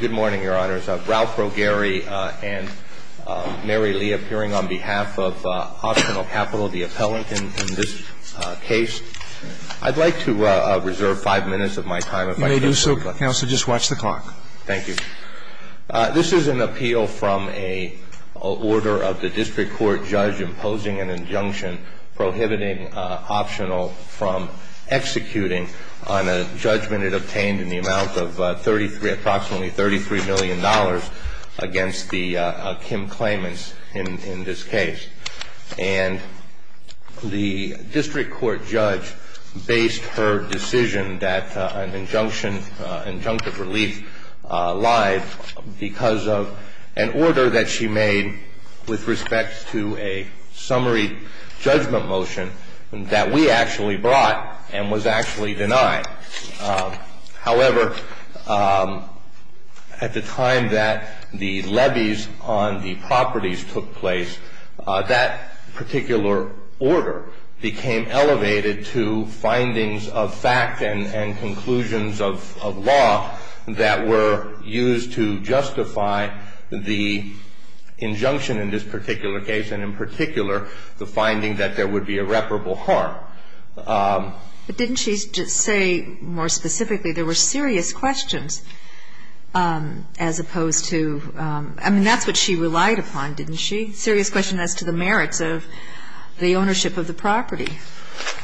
Good morning, Your Honors. Ralph Rogeri and Mary Lee appearing on behalf of Optional Capital, the appellant in this case. I'd like to reserve five minutes of my time if I can. You may do so, Counsel. Just watch the clock. Thank you. This is an appeal from a order of the district court judge imposing an injunction prohibiting Optional from executing on a judgment it obtained in the amount of approximately $33 million against the Kim claimants in this case. And the district court judge based her decision that an injunctive relief lied because of an order that she made with respect to a summary judgment motion that we actually brought and was actually denied. However, at the time that the levies on the properties took place, that particular order became elevated to findings of fact and conclusions of law that were used to justify the injunction in this particular case and, in particular, the finding that there would be irreparable harm. But didn't she say more specifically there were serious questions as opposed to – I mean, that's what she relied upon, didn't she? Serious questions as to the merits of the ownership of the property.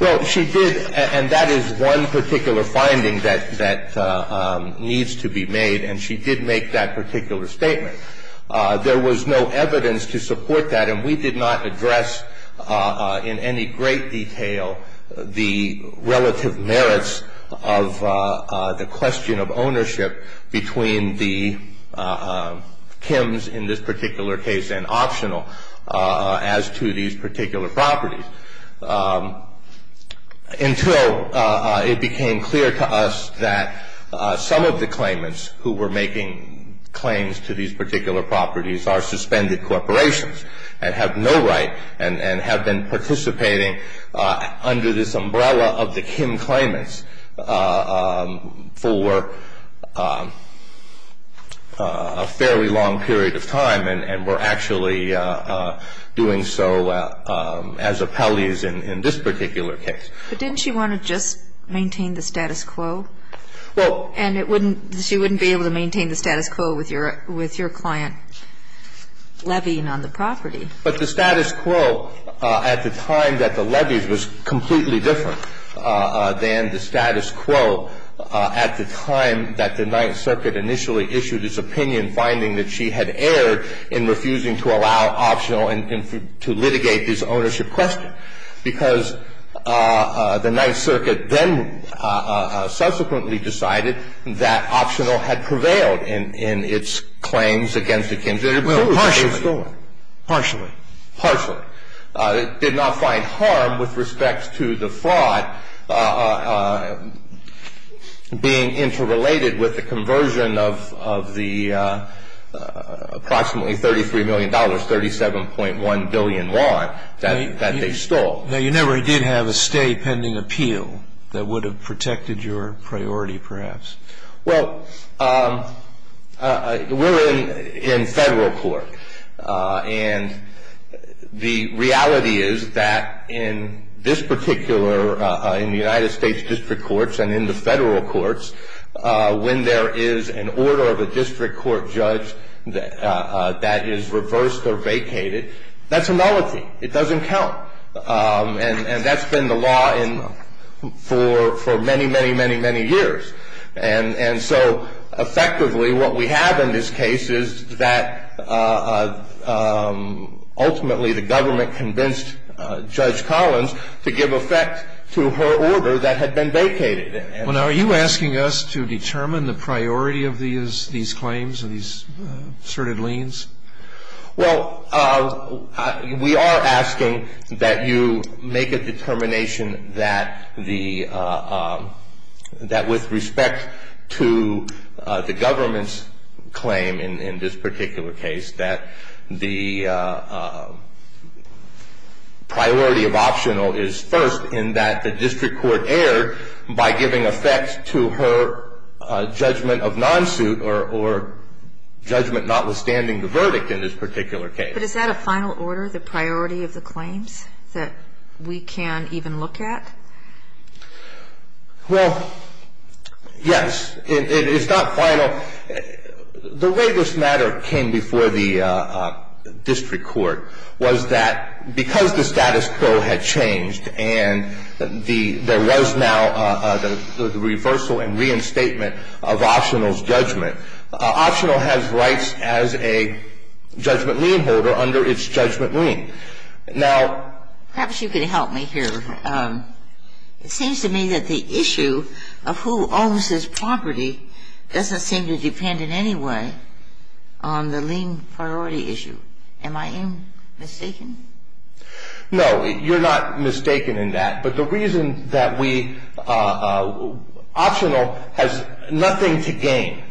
Well, she did, and that is one particular finding that needs to be made, and she did make that particular statement. There was no evidence to support that, and we did not address in any great detail the relative merits of the question of ownership between the Kims in this particular case and Optional as to these particular properties. Until it became clear to us that some of the claimants who were making claims to these particular properties are suspended corporations and have no right and have been participating under this umbrella of the Kim claimants for a fairly long period of time and were actually doing so as appellees in this particular case. But didn't she want to just maintain the status quo? Well – And it wouldn't – she wouldn't be able to maintain the status quo with your client levying on the property. But the status quo at the time that the levies was completely different than the status quo at the time that the Ninth Circuit initially issued its opinion, finding that she had erred in refusing to allow Optional to litigate this ownership question. Because the Ninth Circuit then subsequently decided that Optional had prevailed in its claims against the Kims. Well, partially. Partially. Partially. It did not find harm with respect to the fraud being interrelated with the conversion of the approximately $33 million, $37.1 billion that they stole. Now, you never did have a stay pending appeal that would have protected your priority, perhaps. Well, we're in federal court. And the reality is that in this particular, in the United States district courts and in the federal courts, when there is an order of a district court judge that is reversed or vacated, that's a malarkey. It doesn't count. And that's been the law for many, many, many, many years. And so effectively what we have in this case is that ultimately the government convinced Judge Collins to give effect to her order that had been vacated. Well, now, are you asking us to determine the priority of these claims, of these asserted liens? Well, we are asking that you make a determination that the, that with respect to the government's claim in this particular case, that the priority of optional is first, in that the district court erred by giving effect to her judgment of non-suit or judgment notwithstanding the verdict in this particular case. But is that a final order, the priority of the claims that we can even look at? Well, yes. It's not final. Now, the way this matter came before the district court was that because the status quo had changed and the, there was now the reversal and reinstatement of optional's judgment, optional has rights as a judgment lien holder under its judgment lien. Now, perhaps you can help me here. It seems to me that the issue of who owns this property doesn't seem to depend in any way on the lien priority issue. Am I mistaken? No. You're not mistaken in that. But the reason that we, optional has nothing to gain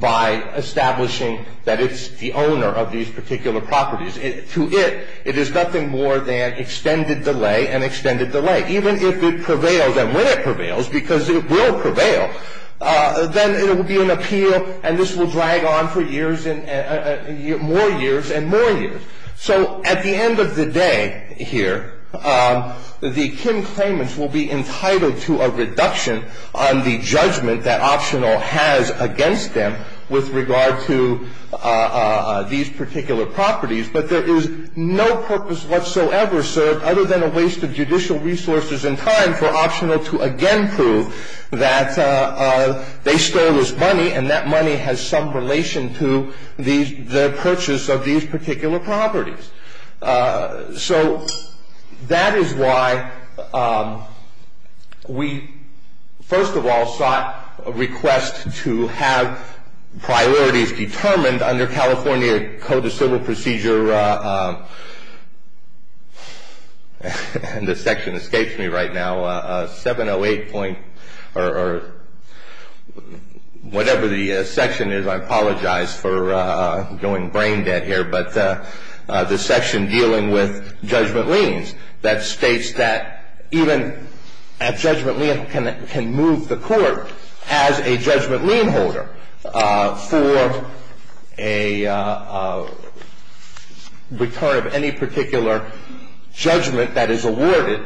by establishing that it's the owner of these particular properties. To it, it is nothing more than extended delay and extended delay. Even if it prevails and when it prevails, because it will prevail, then it will be an appeal and this will drag on for years and more years and more years. So at the end of the day here, the kin claimants will be entitled to a reduction on the judgment that optional has against them with regard to these particular properties. But there is no purpose whatsoever served other than a waste of judicial resources and time for optional to again prove that they stole this money and that money has some relation to the purchase of these particular properties. So that is why we, first of all, sought a request to have priorities determined under California Code of Civil Procedure. This section escapes me right now. 708 point or whatever the section is, I apologize for going brain dead here, but the section dealing with judgment liens that states that even a judgment lien can move the court as a judgment lien holder for a return of any particular judgment that is awarded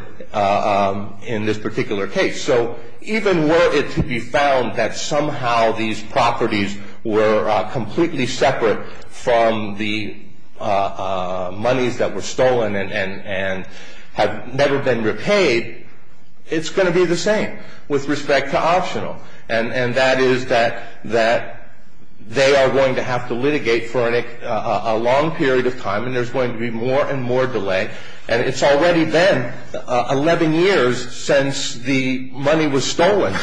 in this particular case. So even were it to be found that somehow these properties were completely separate from the monies that were stolen and have never been repaid, it's going to be the same with respect to optional. And that is that they are going to have to litigate for a long period of time and there's going to be more and more delay. And it's already been 11 years since the money was stolen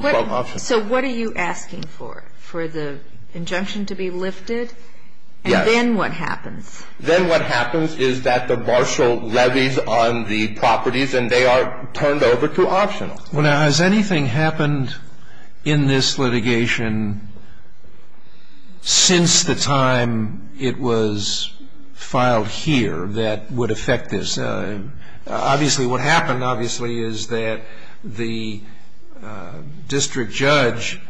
from optional. So what are you asking for? For the injunction to be lifted? Yes. And then what happens? Then what happens is that the marshal levies on the properties and they are turned over to optional. Now, has anything happened in this litigation since the time it was filed here that would affect this? Obviously what happened, obviously, is that the district judge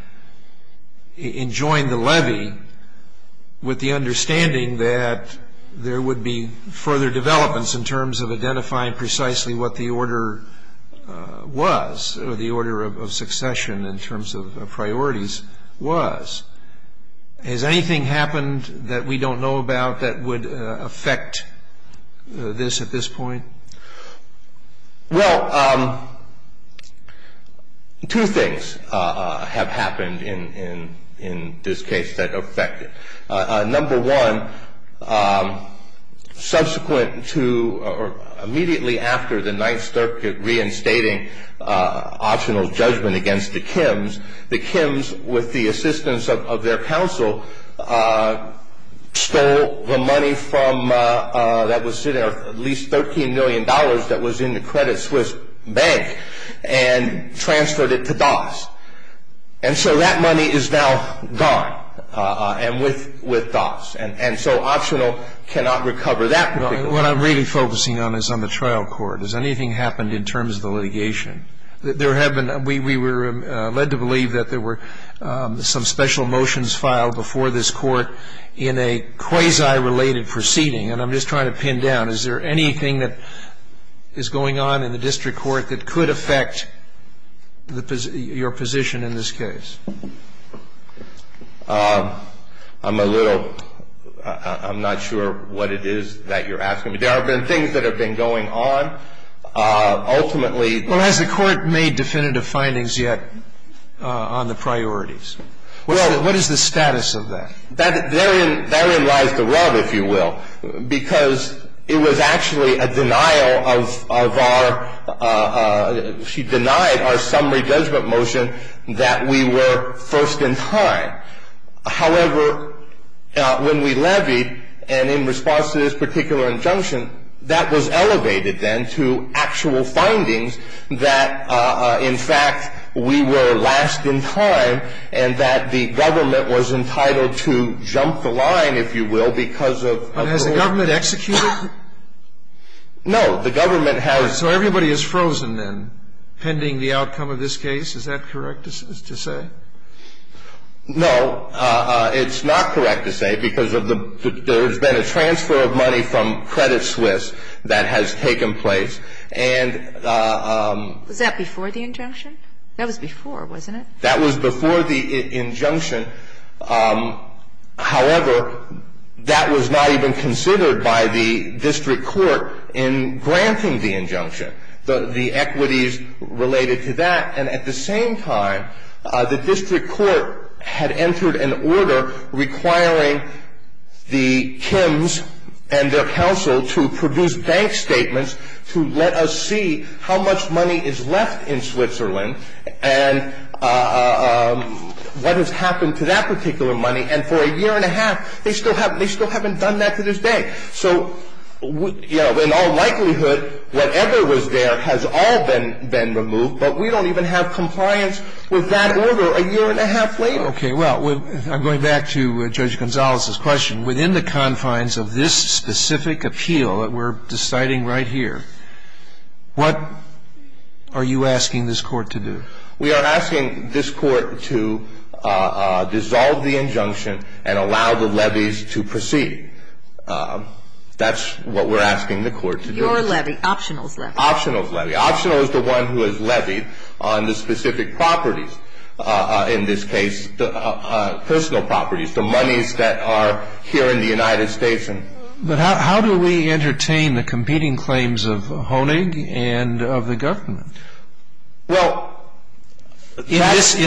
enjoined the levy with the understanding that there would be further developments in terms of identifying precisely what the order was or the order of succession in terms of priorities was. Has anything happened that we don't know about that would affect this at this point? Well, two things have happened in this case that affect it. Number one, subsequent to or immediately after the Ninth Circuit reinstating optional judgment against the Kims, the Kims, with the assistance of their counsel, stole the money that was sitting there, at least $13 million that was in the Credit Suisse Bank, and transferred it to DOS. And so that money is now gone with DOS. And so optional cannot recover that particular money. What I'm really focusing on is on the trial court. Has anything happened in terms of the litigation? We were led to believe that there were some special motions filed before this court in a quasi-related proceeding. And I'm just trying to pin down, is there anything that is going on in the district court that could affect your position in this case? I'm a little ‑‑ I'm not sure what it is that you're asking me. There have been things that have been going on. Ultimately ‑‑ Well, has the court made definitive findings yet on the priorities? What is the status of that? That therein lies the rub, if you will, because it was actually a denial of our ‑‑ she denied our summary judgment motion that we were first in time. However, when we levied, and in response to this particular injunction, that was elevated then to actual findings that, in fact, we were last in time and that the government was entitled to jump the line, if you will, because of ‑‑ But has the government executed? No. The government has ‑‑ So everybody is frozen, then, pending the outcome of this case. Is that correct to say? No. It's not correct to say because of the ‑‑ there has been a transfer of money from Credit Suisse that has taken place. And ‑‑ Was that before the injunction? That was before, wasn't it? That was before the injunction. However, that was not even considered by the district court in granting the injunction, the equities related to that. And at the same time, the district court had entered an order requiring the Kims and their counsel to produce bank statements to let us see how much money is left in Switzerland. And what has happened to that particular money? And for a year and a half, they still haven't done that to this day. So, you know, in all likelihood, whatever was there has all been removed, but we don't even have compliance with that order a year and a half later. Okay. Well, I'm going back to Judge Gonzalez's question. Within the confines of this specific appeal that we're deciding right here, what are you asking this court to do? We are asking this court to dissolve the injunction and allow the levies to proceed. That's what we're asking the court to do. Your levy, optional's levy. Optional's levy. Optional is the one who has levied on the specific properties, in this case, personal properties, the monies that are here in the United States. But how do we entertain the competing claims of Honig and of the government in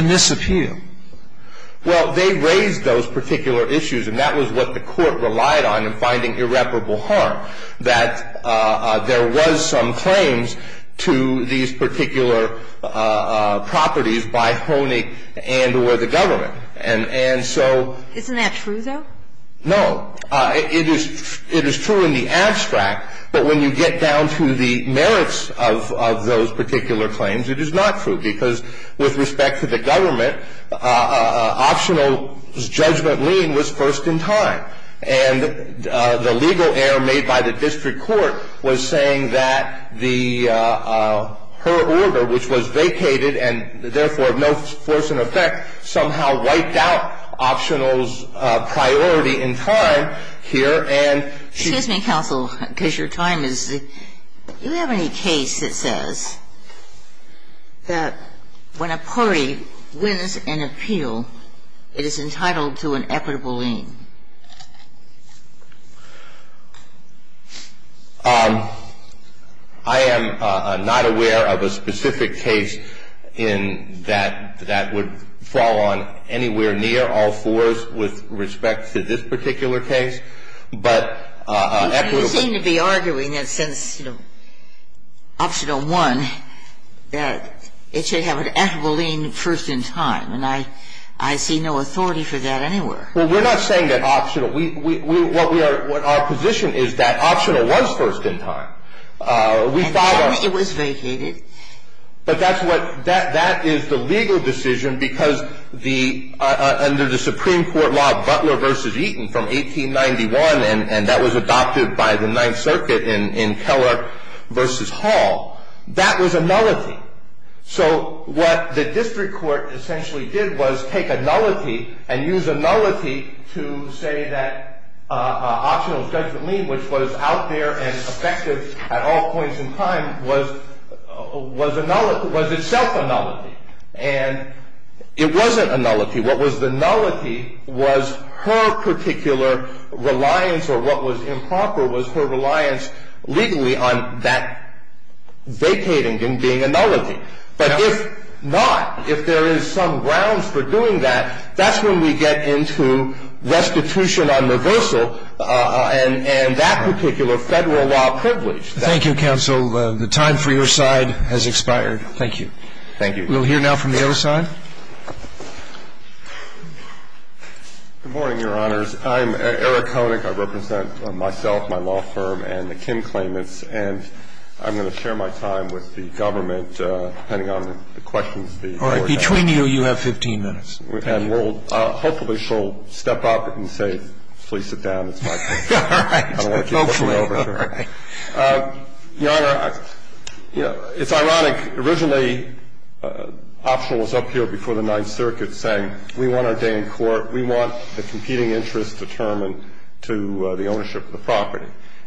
this appeal? Well, they raised those particular issues, and that was what the court relied on in finding irreparable harm, that there was some claims to these particular properties by Honig and or the government. And so — Isn't that true, though? No. It is true in the abstract, but when you get down to the merits of those particular claims, it is not true, because with respect to the government, optional's judgment lien was first in time. And the legal error made by the district court was saying that her order, which was vacated and therefore of no force in effect, somehow wiped out optional's priority in time here and — Excuse me, counsel, because your time is — do you have any case that says that when a party wins an appeal, it is entitled to an equitable lien? I am not aware of a specific case in that that would fall on anywhere near all fours with respect to this particular case, but equitable — You seem to be arguing that since, you know, optional 1, that it should have an equitable lien first in time. And I see no authority for that anywhere. Well, we're not saying that optional — what our position is that optional was first in time. We thought — It was vacated. But that's what — that is the legal decision, because the — under the Supreme Court law, Butler v. Eaton from 1891, and that was adopted by the Ninth Circuit in Keller v. Hall, that was a nullity. So what the district court essentially did was take a nullity and use a nullity to say that optional's judgment lien, which was out there and effective at all points in time, was a nullity — was itself a nullity. And it wasn't a nullity. What was the nullity was her particular reliance or what was improper was her reliance legally on that and was vacating and being a nullity. But if not, if there is some grounds for doing that, that's when we get into restitution on reversal and that particular Federal law privilege. Thank you, counsel. The time for your side has expired. Thank you. Thank you. We'll hear now from the other side. Good morning, Your Honors. I'm Eric Koenig. I represent myself, my law firm, and the Kim claimants, and I'm going to share my time with the government depending on the questions the Court has. All right. Between you, you have 15 minutes. And we'll — hopefully she'll step up and say, please sit down. It's my pleasure. All right. Hopefully. I don't want you to push me over here. All right. Your Honor, it's ironic. Originally, optional was up here before the Ninth Circuit saying we want our day in court, we want the competing interests determined to the ownership of the property.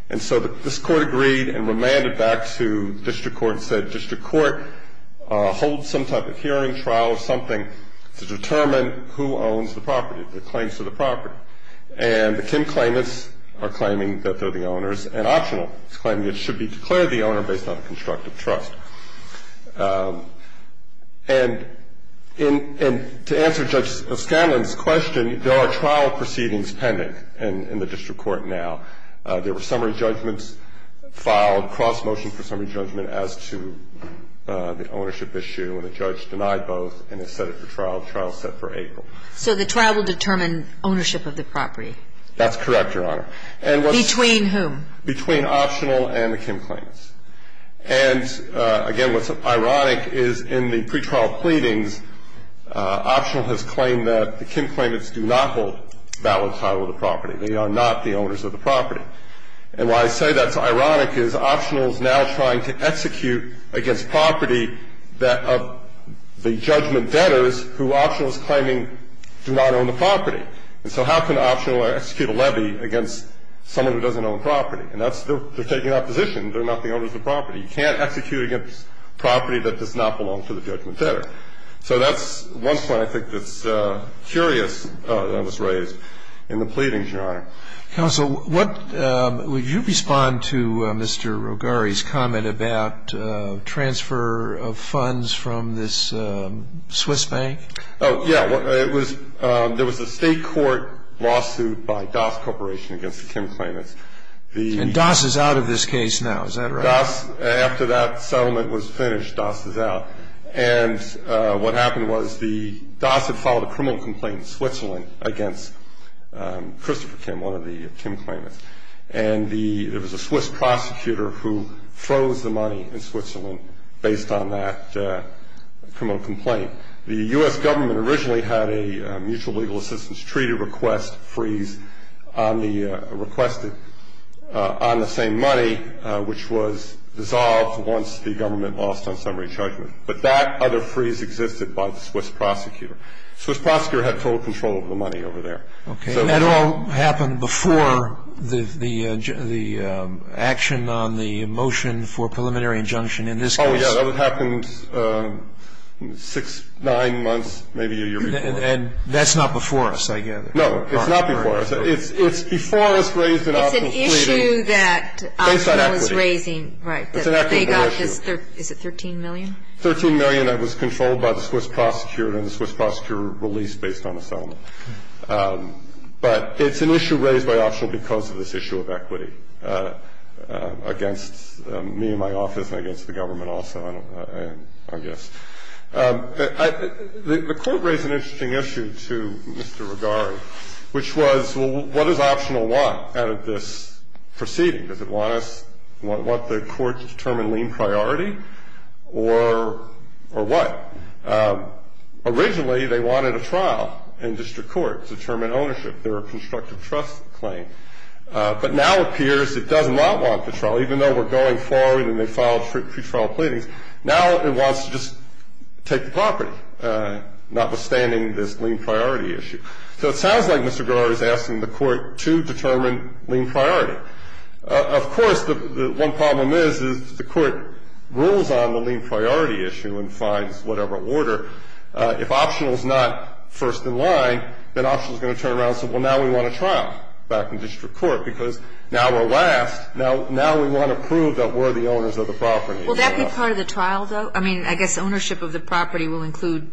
And so this Court agreed and remanded back to district court and said district court, hold some type of hearing trial or something to determine who owns the property, the claims to the property. And the Kim claimants are claiming that they're the owners, and optional is claiming it should be declared the owner based on a constructive trust. And to answer Judge Scanlon's question, there are trial proceedings pending in the district court now. There were summary judgments filed, cross-motion for summary judgment as to the ownership issue, and the judge denied both and has set it for trial. The trial is set for April. So the trial will determine ownership of the property? That's correct, Your Honor. Between whom? Between optional and the Kim claimants. And, again, what's ironic is in the pretrial pleadings, optional has claimed that the Kim claimants do not hold valid title of the property. They are not the owners of the property. And why I say that's ironic is optional is now trying to execute against property of the judgment debtors who optional is claiming do not own the property. And so how can optional execute a levy against someone who doesn't own property? And they're taking opposition. They're not the owners of the property. You can't execute against property that does not belong to the judgment debtor. So that's one point I think that's curious that was raised in the pleadings, Your Honor. Counsel, would you respond to Mr. Rogari's comment about transfer of funds from this Swiss bank? Oh, yeah. There was a state court lawsuit by Doss Corporation against the Kim claimants. And Doss is out of this case now. Is that right? Doss, after that settlement was finished, Doss is out. And what happened was Doss had filed a criminal complaint in Switzerland against Christopher Kim, one of the Kim claimants. And there was a Swiss prosecutor who froze the money in Switzerland based on that criminal complaint. The U.S. government originally had a mutual legal assistance treaty request freeze on the requested on the same money, which was dissolved once the government lost on summary judgment. But that other freeze existed by the Swiss prosecutor. The Swiss prosecutor had total control over the money over there. Okay. And that all happened before the action on the motion for preliminary injunction in this case? Oh, yeah. That happened six, nine months, maybe a year before. And that's not before us, I gather. No. It's not before us. It's before us raised in optional pleading based on equity. It's an issue that Optional is raising. Right. It's an equitable issue. Is it $13 million? $13 million that was controlled by the Swiss prosecutor and the Swiss prosecutor released based on a settlement. But it's an issue raised by Optional because of this issue of equity against me and my son, I guess. The Court raised an interesting issue to Mr. Regari, which was, well, what does Optional want out of this proceeding? Does it want us to want the Court to determine lien priority or what? Originally, they wanted a trial in district court to determine ownership. They were a constructive trust claim. But now it appears it does not want the trial, even though we're going forward and they filed pretrial pleadings. Now it wants to just take the property, notwithstanding this lien priority issue. So it sounds like Mr. Regari is asking the Court to determine lien priority. Of course, the one problem is, is the Court rules on the lien priority issue and finds whatever order. If Optional is not first in line, then Optional is going to turn around and say, well, now we want a trial back in district court because now we're last. Now we want to prove that we're the owners of the property. Will that be part of the trial, though? I mean, I guess ownership of the property will include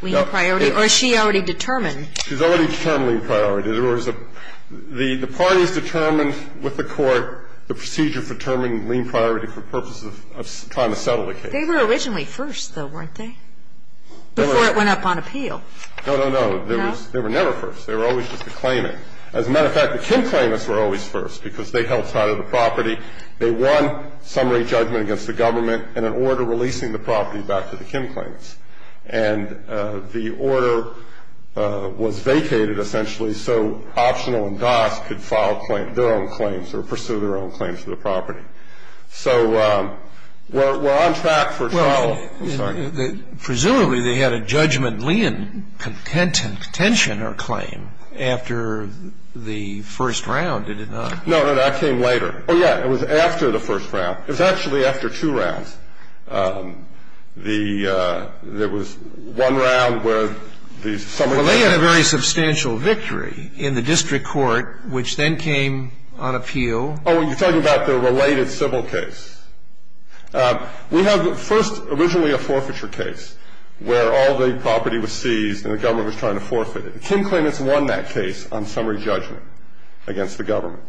lien priority? Or is she already determined? She's already determined lien priority. There was a – the parties determined with the Court the procedure for determining lien priority for purposes of trying to settle the case. They were originally first, though, weren't they, before it went up on appeal? No, no, no. They were never first. They were always just a claimant. As a matter of fact, the Kim claimants were always first because they held title of the property. They won summary judgment against the government in an order releasing the property back to the Kim claimants. And the order was vacated, essentially, so Optional and DOS could file claim – their own claims or pursue their own claims for the property. So we're on track for trial. I'm sorry. Presumably, they had a judgment lien contention or claim after the first round, did it not? No, no, that came later. Oh, yeah. It was after the first round. It was actually after two rounds. The – there was one round where the summary judgment – Well, they had a very substantial victory in the district court, which then came on appeal. Oh, you're talking about the related civil case. We have first originally a forfeiture case where all the property was seized and the government was trying to forfeit it. The Kim claimants won that case on summary judgment against the government.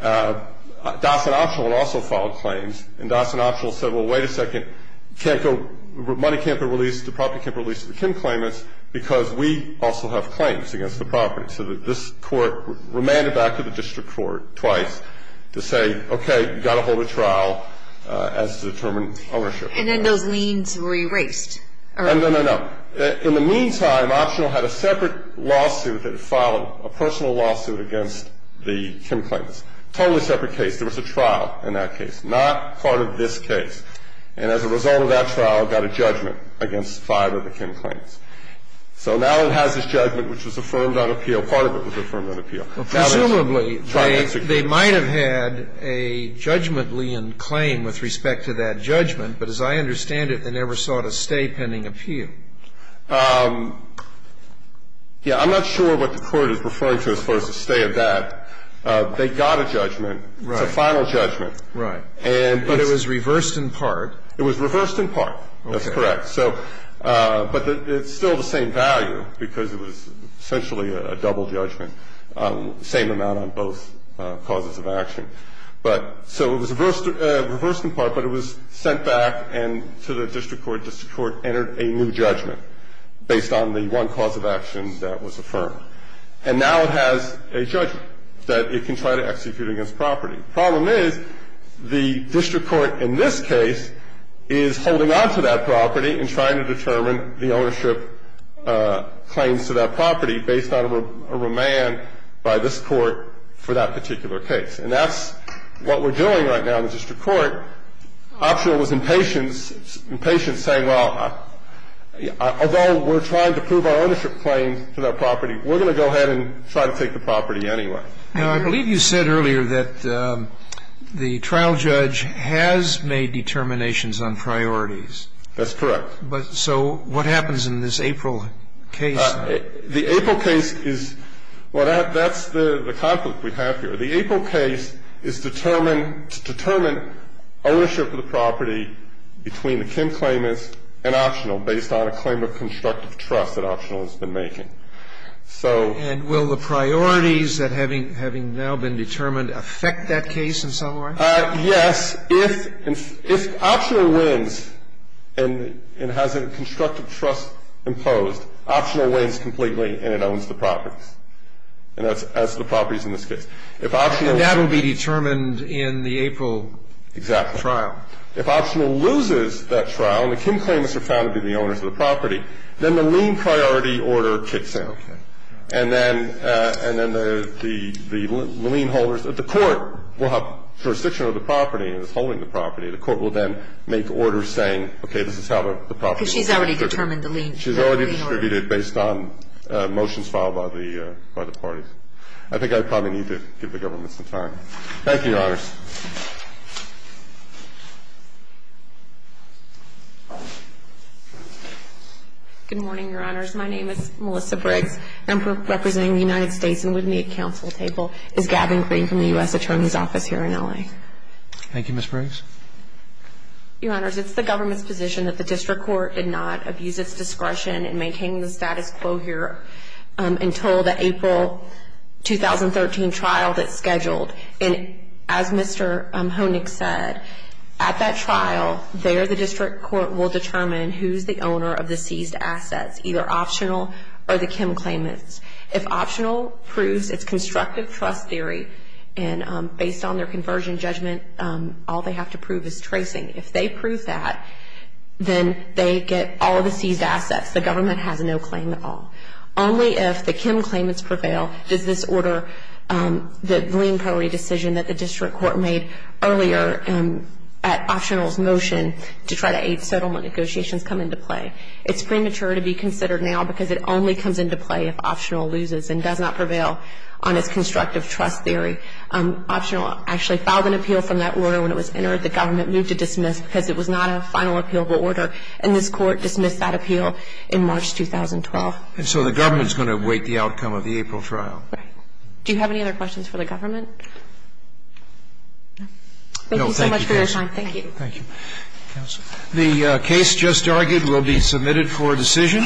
DOS and Optional also filed claims. And DOS and Optional said, well, wait a second. You can't go – money can't be released – the property can't be released to the Kim claimants because we also have claims against the property. So this court remanded back to the district court twice to say, okay, you've got to hold a trial. You've got to hold a trial as to determine ownership. And then those liens were erased? No, no, no. In the meantime, Optional had a separate lawsuit that followed, a personal lawsuit against the Kim claimants. Totally separate case. There was a trial in that case. Not part of this case. And as a result of that trial, got a judgment against five of the Kim claimants. So now it has this judgment which was affirmed on appeal. Part of it was affirmed on appeal. But presumably, they might have had a judgment lien claim with respect to that judgment. But as I understand it, they never sought a stay pending appeal. Yeah. I'm not sure what the Court is referring to as far as the stay of that. They got a judgment. Right. It's a final judgment. Right. But it was reversed in part. It was reversed in part. Okay. That's correct. But it's still the same value because it was essentially a double judgment, same amount on both causes of action. But so it was reversed in part, but it was sent back to the district court. District court entered a new judgment based on the one cause of action that was affirmed. And now it has a judgment that it can try to execute against property. The problem is the district court in this case is holding on to that property and trying to determine the ownership claims to that property based on a remand by this court for that particular case. And that's what we're doing right now in the district court. Optional was impatient, saying, well, although we're trying to prove our ownership claims to that property, we're going to go ahead and try to take the property anyway. Now, I believe you said earlier that the trial judge has made determinations on priorities. That's correct. But so what happens in this April case? The April case is, well, that's the conflict we have here. The April case is to determine ownership of the property between the Kim claimants and Optional based on a claim of constructive trust that Optional has been making. And will the priorities that having now been determined affect that case in some way? Yes. If Optional wins and has a constructive trust imposed, Optional wins completely and it owns the property. And that's the properties in this case. And that will be determined in the April trial. Exactly. If Optional loses that trial and the Kim claimants are found to be the owners of the property, that gets disallowed. And then the lien holders at the court will have jurisdiction over the property and is holding the property. The court will then make orders saying, okay, this is how the property is going to be distributed. Because she's already determined the lien. She's already distributed based on motions filed by the parties. I think I probably need to give the government some time. Thank you, Your Honors. Good morning, Your Honors. My name is Melissa Briggs. I'm representing the United States. And with me at council table is Gavin Green from the U.S. Attorney's Office here in L.A. Thank you, Ms. Briggs. Your Honors, it's the government's position that the district court did not abuse its discretion in making the status quo here until the April 2013 trial that's scheduled. And as Mr. Honig said, at that trial, there the district court will determine who's the owner of the seized assets, either Optional or the Kim claimants. If Optional proves its constructive trust theory, and based on their conversion judgment, all they have to prove is tracing. If they prove that, then they get all the seized assets. The government has no claim at all. Only if the Kim claimants prevail does this order the lien priority decision that the district court made earlier at Optional's motion to try to aid settlement negotiations come into play. It's premature to be considered now because it only comes into play if Optional loses and does not prevail on its constructive trust theory. Optional actually filed an appeal from that order when it was entered. The government moved to dismiss because it was not a final appealable order. And this Court dismissed that appeal in March 2012. And so the government's going to weight the outcome of the April trial. Right. Do you have any other questions for the government? No. Thank you so much for your time. Thank you. Thank you. Counsel. The case just argued will be submitted for decision.